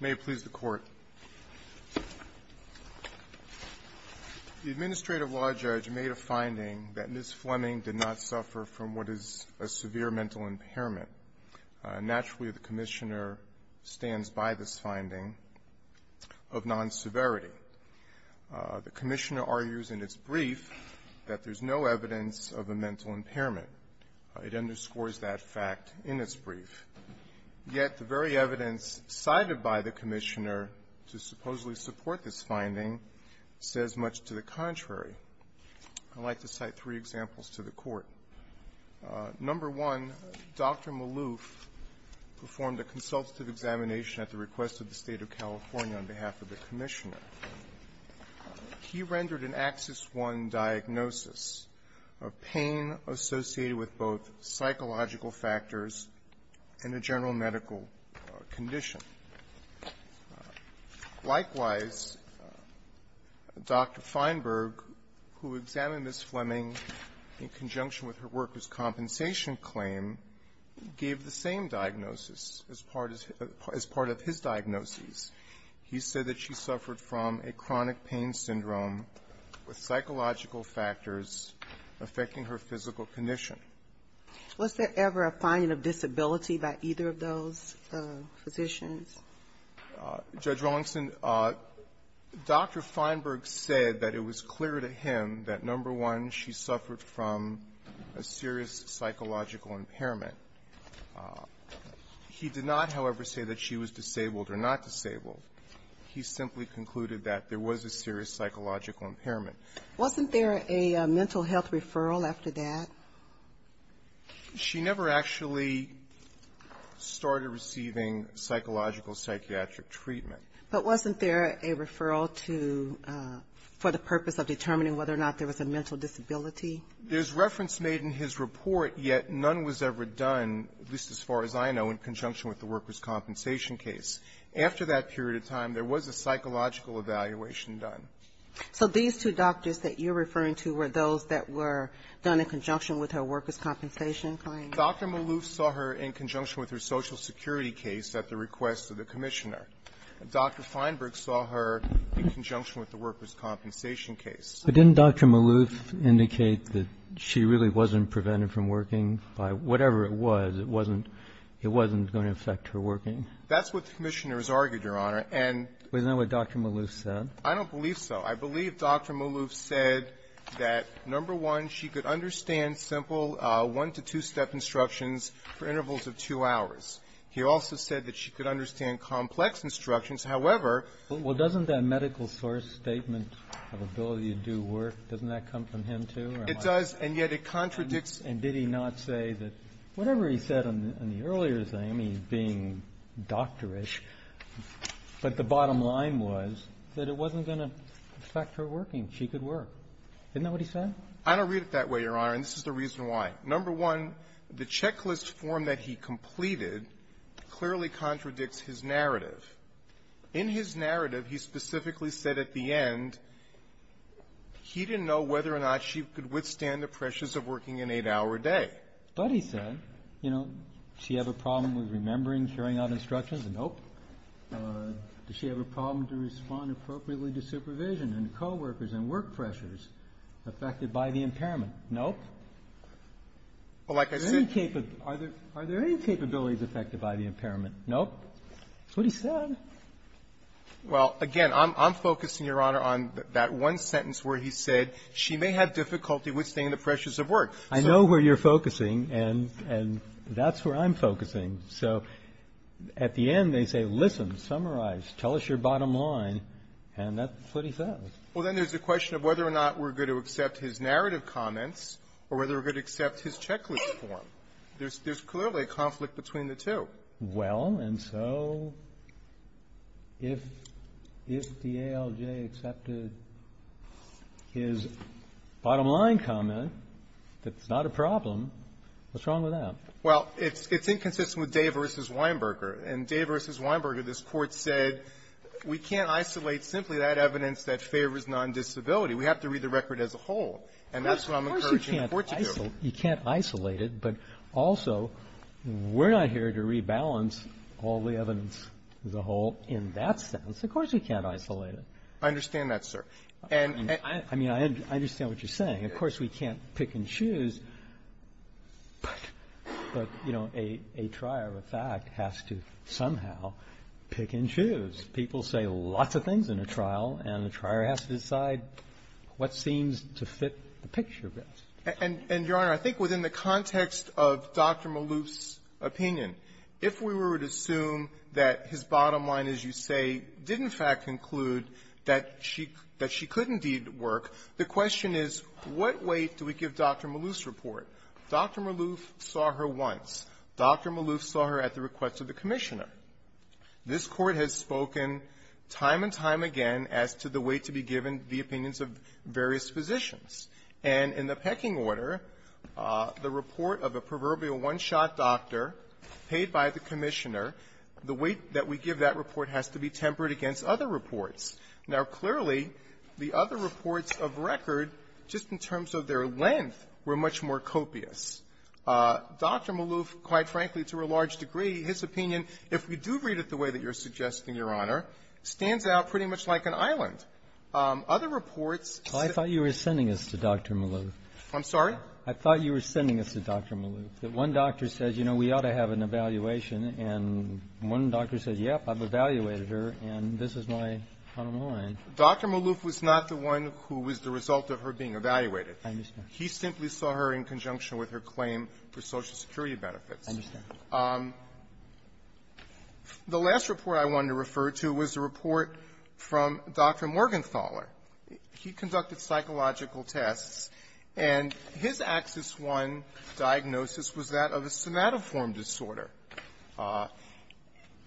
The Administrative Law Judge made a finding that Ms. Fleming did not suffer from what is a severe mental impairment. Naturally, the Commissioner stands by this finding of non-severity. The Commissioner argues in its brief that there's no evidence of a mental impairment. It underscores that fact in its brief. Yet the very evidence cited by the Commissioner to supposedly support this finding says much to the contrary. I'd like to cite three examples to the Court. Number one, Dr. Maloof performed a consultative examination at the request of the State of California on behalf of the Commissioner. He rendered an Axis I diagnosis of pain associated with both psychological factors and a general medical condition. Likewise, Dr. Feinberg, who examined Ms. Fleming in conjunction with her workers' compensation claim, gave the same diagnosis as part of his diagnoses. He said that she suffered from a chronic pain syndrome with psychological factors affecting her physical condition. Was there ever a finding of disability by either of those physicians? Judge Rawlingson, Dr. Feinberg said that it was clear to him that, number one, she suffered from a serious psychological impairment. He did not, however, say that she was disabled or not disabled. He simply concluded that there was a serious psychological impairment. Wasn't there a mental health referral after that? She never actually started receiving psychological psychiatric treatment. But wasn't there a referral to the purpose of determining whether or not there was a mental disability? There's reference made in his report, yet none was ever done, at least as far as I know, in conjunction with the workers' compensation case. After that period of time, there was a psychological evaluation done. So these two doctors that you're referring to were those that were done in conjunction with her workers' compensation claim? Dr. Maloof saw her in conjunction with her Social Security case at the request of the Commissioner. Dr. Feinberg saw her in conjunction with the workers' compensation case. But didn't Dr. Maloof indicate that she really wasn't prevented from working by whatever it was? It wasn't going to affect her working? That's what the Commissioner has argued, Your Honor, and we know what Dr. Maloof said. I don't believe so. I believe Dr. Maloof said that, number one, she could understand simple one-to-two-step instructions for intervals of two hours. He also said that she could understand complex instructions. However -- Well, doesn't that medical source statement of ability to do work, doesn't that come from him, too, or am I wrong? It does, and yet it contradicts -- And did he not say that whatever he said in the earlier thing, he's being doctorish, but the bottom line was that it wasn't going to affect her working. She could work. Isn't that what he said? I don't read it that way, Your Honor, and this is the reason why. Number one, the checklist form that he completed clearly contradicts his narrative. In his narrative, he specifically said at the end he didn't know whether or not she could withstand the pressures of working an eight-hour day. But he said, you know, does she have a problem with remembering, carrying out instructions? Nope. Does she have a problem to respond appropriately to supervision and coworkers and work pressures affected by the impairment? Nope. Are there any capabilities affected by the impairment? Nope. That's what he said. Well, again, I'm focusing, Your Honor, on that one sentence where he said she may have difficulty withstanding the pressures of work. I know where you're focusing, and that's where I'm focusing. So at the end, they say, listen, summarize, tell us your bottom line, and that's what he says. Well, then there's the question of whether or not we're going to accept his narrative comments or whether we're going to accept his checklist form. There's clearly a conflict between the two. Well, and so if the ALJ accepted his bottom line comment, that's not a problem, what's wrong with that? Well, it's inconsistent with Day v. Weinberger. In Day v. Weinberger, this Court said we can't isolate simply that evidence that favors non-disability. We have to read the record as a whole. And that's what I'm encouraging the Court to do. Of course you can't isolate it, but also we're not here to rebalance all the evidence as a whole in that sense. Of course we can't isolate it. I understand that, sir. I mean, I understand what you're saying. Of course we can't pick and choose. But, you know, a trier of fact has to somehow pick and choose. People say lots of things in a trial, and the trier has to decide what seems to fit the picture best. And, Your Honor, I think within the context of Dr. Maloof's opinion, if we were to assume that his bottom line, as you say, did in fact conclude that she could indeed work, the question is, what weight do we give Dr. Maloof's report? Dr. Maloof saw her once. Dr. Maloof saw her at the request of the Commissioner. This Court has spoken time and time again as to the weight to be given the opinions of various physicians. And in the pecking order, the report of a proverbial one-shot doctor paid by the Commissioner, the weight that we give that report has to be tempered against other reports. Now, clearly, the other reports of record, just in terms of their length, were much more copious. Dr. Maloof, quite frankly, to a large degree, his opinion, if we do read it the way that you're suggesting, Your Honor, stands out pretty much like an island. Other reports say the same thing. I thought you were sending us to Dr. Maloof. I'm sorry? I thought you were sending us to Dr. Maloof, that one doctor says, you know, we ought to have an evaluation. And one doctor says, yep, I've evaluated her, and this is my bottom line. Dr. Maloof was not the one who was the result of her being evaluated. I understand. He simply saw her in conjunction with her claim for Social Security benefits. I understand. The last report I wanted to refer to was a report from Dr. Morgenthaler. He conducted psychological tests, and his Axis I diagnosis was that of a somatoform disorder.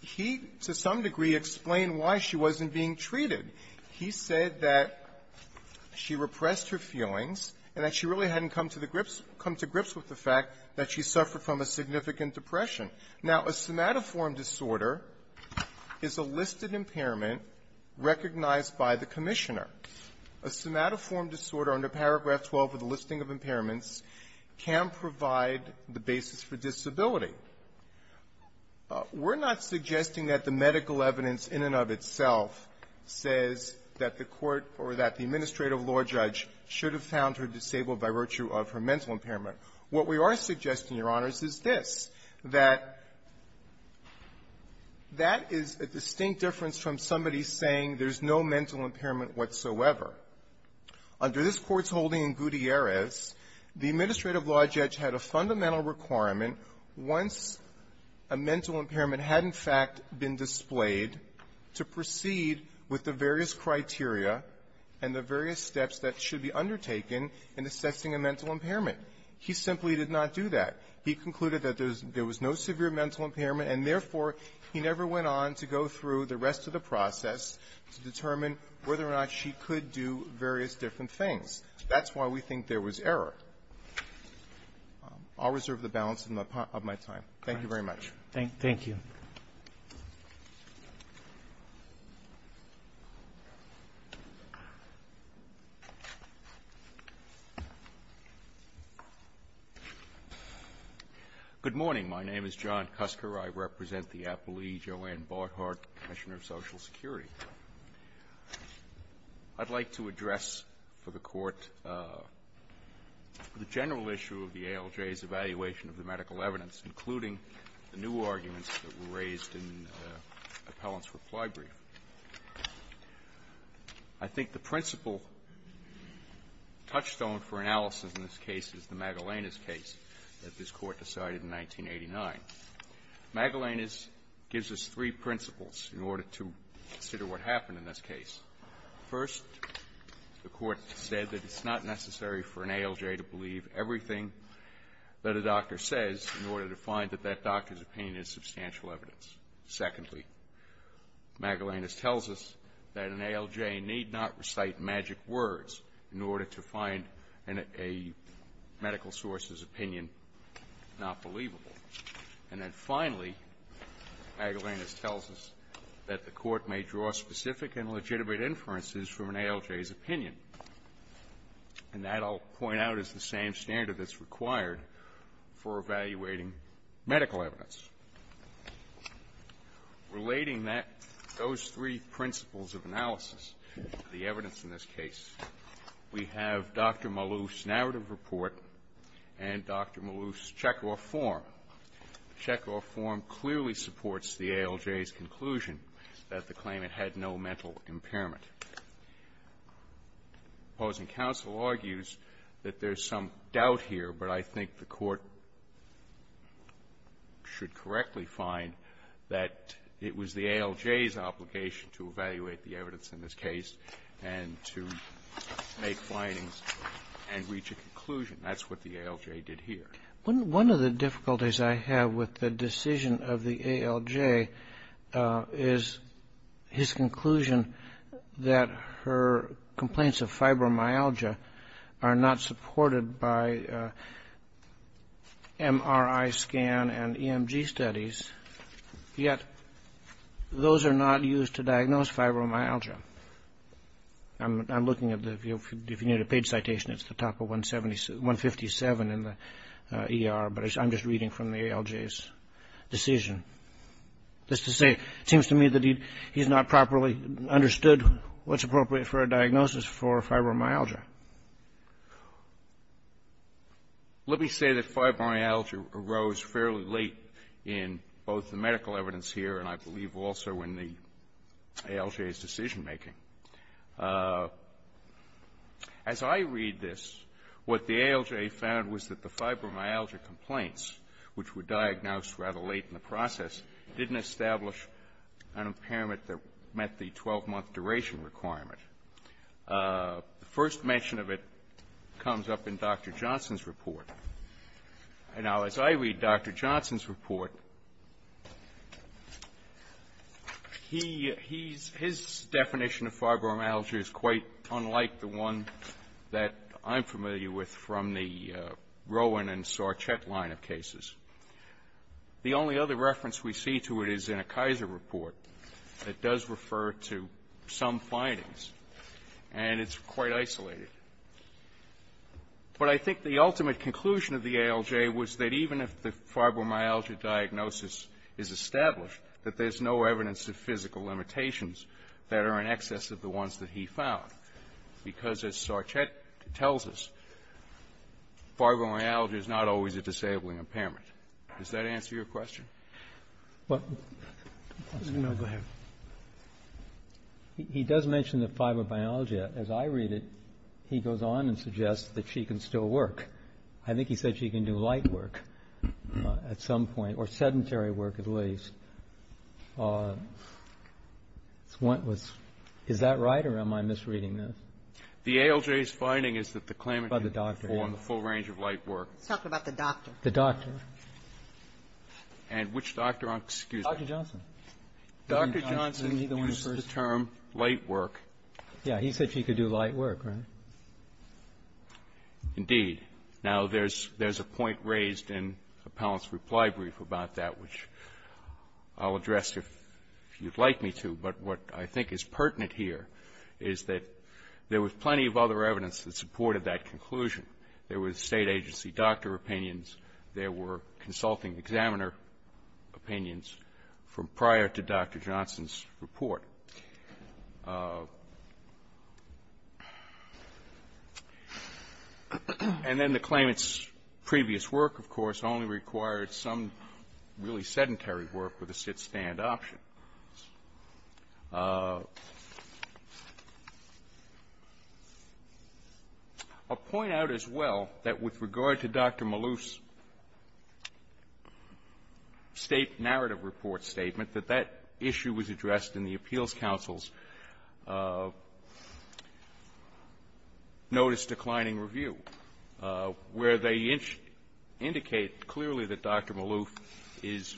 He, to some degree, explained why she wasn't being treated. He said that she repressed her feelings and that she really hadn't come to the grips to come to grips with the fact that she suffered from a significant depression. Now, a somatoform disorder is a listed impairment recognized by the Commissioner. A somatoform disorder under Paragraph 12 of the listing of impairments can provide the basis for disability. We're not suggesting that the medical evidence in and of itself says that the Court or that the administrative law judge should have found her disabled by virtue of her mental impairment. What we are suggesting, Your Honors, is this, that that is a distinct difference from somebody saying there's no mental impairment whatsoever. Under this Court's holding in Gutierrez, the administrative law judge had a fundamental requirement once a mental impairment had, in fact, been displayed to proceed with the various criteria and the various steps that should be undertaken in assessing a mental impairment. He simply did not do that. He concluded that there was no severe mental impairment, and, therefore, he never went on to go through the rest of the process to determine whether or not she could do various different things. That's why we think there was error. I'll reserve the balance of my time. Thank you very much. Thank you. Good morning. My name is John Cusker. I represent the appellee Joanne Barthard, Commissioner of Social Security. I'd like to address for the Court the general issue of the ALJ's evaluation of the medical evidence, including the new arguments that were raised in Appellant's reply brief. I think the principal touchstone for analysis in this case is the Magellanes case that this Court decided in 1989. Magellanes gives us three principles in order to consider what happened in this case. First, the Court said that it's not necessary for an ALJ to believe everything that a doctor says in order to find that that doctor's opinion is substantial evidence. Secondly, Magellanes tells us that an ALJ need not recite magic words in order to find a medical source's opinion not believable. And then, finally, Magellanes tells us that the Court may draw specific and legitimate inferences from an ALJ's opinion. And that, I'll point out, is the same standard that's required for evaluating medical evidence. Relating that, those three principles of analysis, the evidence in this case, we have Dr. Malouf's narrative report and Dr. Malouf's checkoff form. The checkoff form clearly supports the ALJ's conclusion that the claimant had no mental impairment. The opposing counsel argues that there's some doubt here, but I think the Court should correctly find that it was the ALJ's obligation to evaluate the evidence in this case and to make findings and reach a conclusion. That's what the ALJ did here. One of the difficulties I have with the decision of the ALJ is his conclusion that her complaints of fibromyalgia are not supported by MRI scan and EMG studies, yet those are not used to diagnose fibromyalgia. I'm looking at the view, if you need a page citation, it's the top of 157 in the ER, but I'm just reading from the ALJ's decision. That's to say, it seems to me that he's not properly understood what's appropriate for a diagnosis for fibromyalgia. Let me say that fibromyalgia arose fairly late in both the medical evidence here and I believe also in the ALJ's decision-making. As I read this, what the ALJ found was that the fibromyalgia complaints, which were diagnosed rather late in the process, didn't establish an impairment that met the 12-month duration requirement. The first mention of it comes up in Dr. Johnson's report. Now, as I read Dr. Johnson's report, his definition of fibromyalgia is quite unlike the one that I'm familiar with from the Rowan and Sarchett line of cases. The only other reference we see to it is in a Kaiser report that does refer to some findings, and it's quite isolated. But I think the ultimate conclusion of the ALJ was that even if the fibromyalgia diagnosis is established, that there's no evidence of physical limitations that are in excess of the ones that he found, because as Sarchett tells us, fibromyalgia is not always a disabling impairment. Does that answer your question? Go ahead. He does mention the fibromyalgia. As I read it, he goes on and suggests that she can still work. I think he said she can do light work at some point, or sedentary work at least. Is that right, or am I misreading this? The ALJ's finding is that the claimant can perform the full range of light work. Let's talk about the doctor. The doctor. And which doctor? Excuse me. Dr. Johnson. Dr. Johnson used the term light work. Yes. He said she could do light work, right? Indeed. Now, there's a point raised in Appellant's reply brief about that, which I'll address if you'd like me to. But what I think is pertinent here is that there was plenty of other evidence that supported that conclusion. There was State agency doctor opinions. There were consulting examiner opinions from prior to Dr. Johnson's report. And then the claimant's previous work, of course, only required some really sedentary work with a sit-stand option. I'll point out as well that with regard to Dr. Maloof's State narrative report statement, that that issue was addressed in the appeals counsel's notice declining review, where they indicate clearly that Dr. Maloof is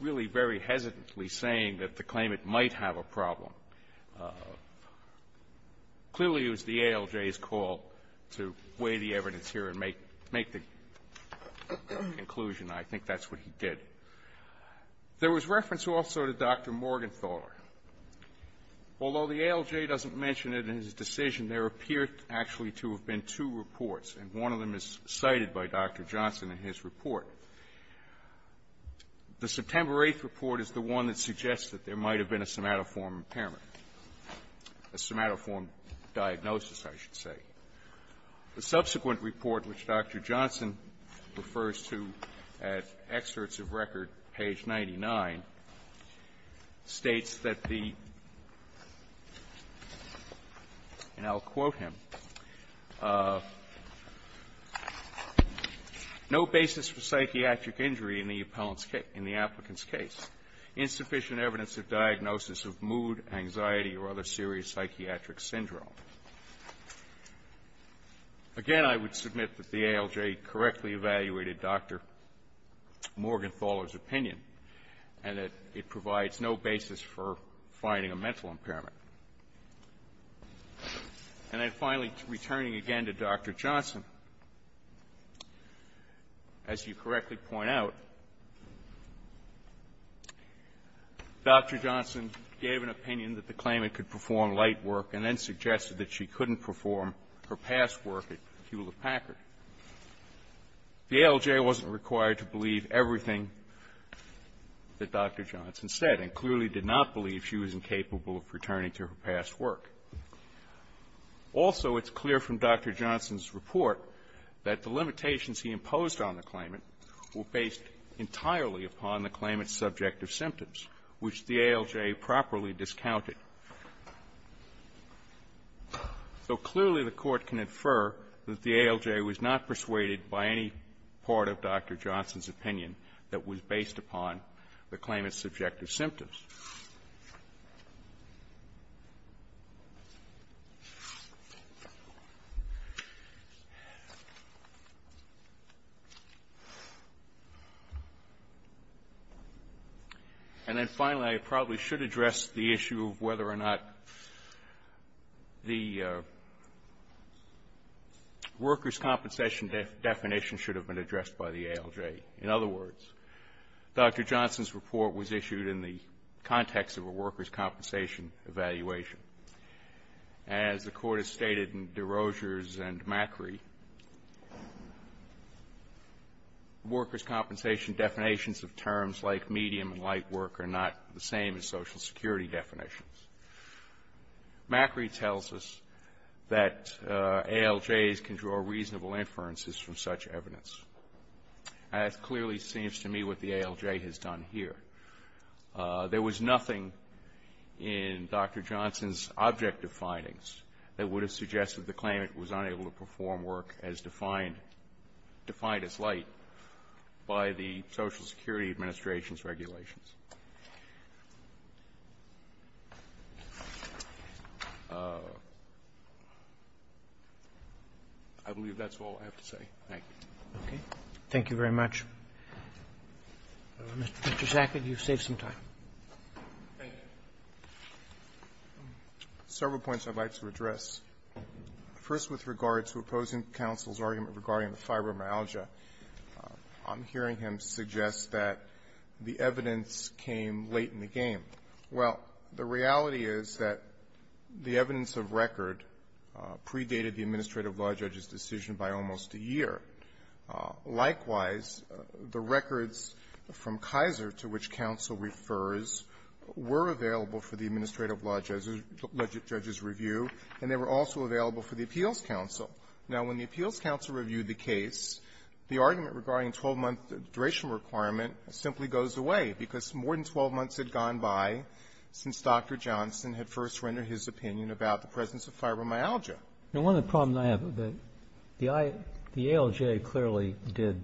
really very hesitantly supporting saying that the claimant might have a problem. Clearly, it was the ALJ's call to weigh the evidence here and make the conclusion. I think that's what he did. There was reference also to Dr. Morgenthaler. Although the ALJ doesn't mention it in his decision, there appear actually to have been two reports, and one of them is cited by Dr. Johnson in his report. The September 8th report is the one that suggests that there might have been a somatoform impairment, a somatoform diagnosis, I should say. The subsequent report, which Dr. Johnson refers to at excerpts of record, page 99, states that the, and I'll quote him, no basis for psychiatric injury in the appellant's case, in the applicant's case, insufficient evidence of diagnosis of mood, anxiety, or other serious psychiatric syndrome. Again, I would submit that the ALJ correctly evaluated Dr. Morgenthaler's opinion, and that it provides no basis for finding a mental impairment. And then, finally, returning again to Dr. Johnson, as you correctly point out, Dr. Johnson gave an opinion that the claimant could perform light work and then suggested that she couldn't perform her past work at Hewlett-Packard. The ALJ wasn't required to believe everything that Dr. Johnson said, and clearly did not believe she was incapable of returning to her past work. Also, it's clear from Dr. Johnson's report that the limitations he imposed on the claimant were based entirely upon the claimant's subjective symptoms, which the ALJ properly discounted. So clearly, the Court can infer that the ALJ was not persuaded by any part of Dr. Johnson's opinion. And then, finally, I probably should address the issue of whether or not the workers' compensation definition should have been addressed by the ALJ. In other words, Dr. Johnson's report was issued in the context of a workers' compensation evaluation. As the Court has stated in DeRogers and Macri, workers' compensation definitions of terms like medium and light work are not the same as Social Security definitions. Macri tells us that ALJs can draw reasonable inferences from such evidence. And it clearly seems to me what the ALJ has done here. There was nothing in Dr. Johnson's objective findings that would have suggested the claimant was unable to perform work as defined as light by the Social Security Administration's regulations. I believe that's all I have to say. Thank you. Roberts. Okay. Thank you very much. Mr. Sackett, you've saved some time. Sackett. Thank you. Several points I'd like to address. First, with regard to opposing counsel's opinion regarding the fibromyalgia, I'm hearing him suggest that the evidence came late in the game. Well, the reality is that the evidence of record predated the administrative law judge's decision by almost a year. Likewise, the records from Kaiser, to which counsel refers, were available for the administrative law judge's review, and they were also available for the appeals counsel. Now, when the appeals counsel reviewed the case, the argument regarding 12-month duration requirement simply goes away, because more than 12 months had gone by since Dr. Johnson had first rendered his opinion about the presence of fibromyalgia. Now, one of the problems I have is that the ALJ clearly did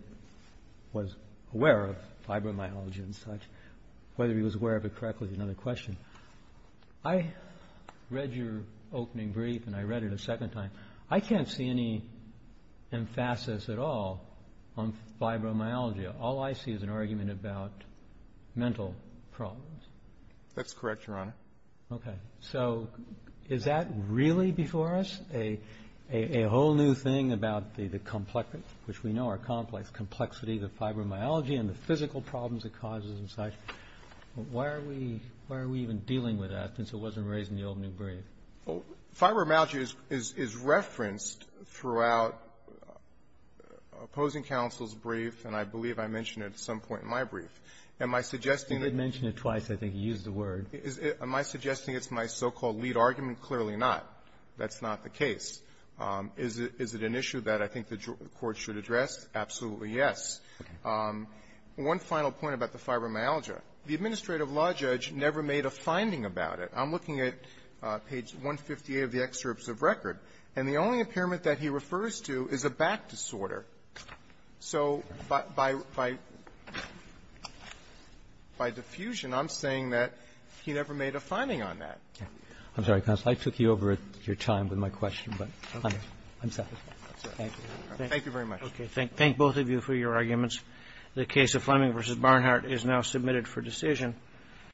or was aware of fibromyalgia and such. Whether he was aware of it correctly is another question. I read your opening brief, and I read it a second time. I can't see any emphasis at all on fibromyalgia. All I see is an argument about mental problems. Sackett. That's correct, Your Honor. Roberts. Okay. So is that really before us, a whole new thing about the complexity of fibromyalgia and the physical problems it causes and such? Why are we even dealing with that since it wasn't raised in the opening brief? Sackett. Fibromyalgia is referenced throughout opposing counsel's brief, and I believe I mentioned it at some point in my brief. Am I suggesting that my so-called lead argument? Clearly not. That's not the case. Is it an issue that I think the Court should address? Absolutely, yes. One final point about the fibromyalgia. The administrative law judge never made a finding about it. I'm looking at page 158 of the excerpts of record, and the only impairment that he refers to is a back disorder. So by the fusion, I'm saying that he never made a finding on that. I'm sorry, counsel. I took you over your time with my question, but I'm sorry. Thank you. Thank you very much. Okay. Thank both of you for your arguments. The case of Fleming v. Barnhart is now submitted for decision.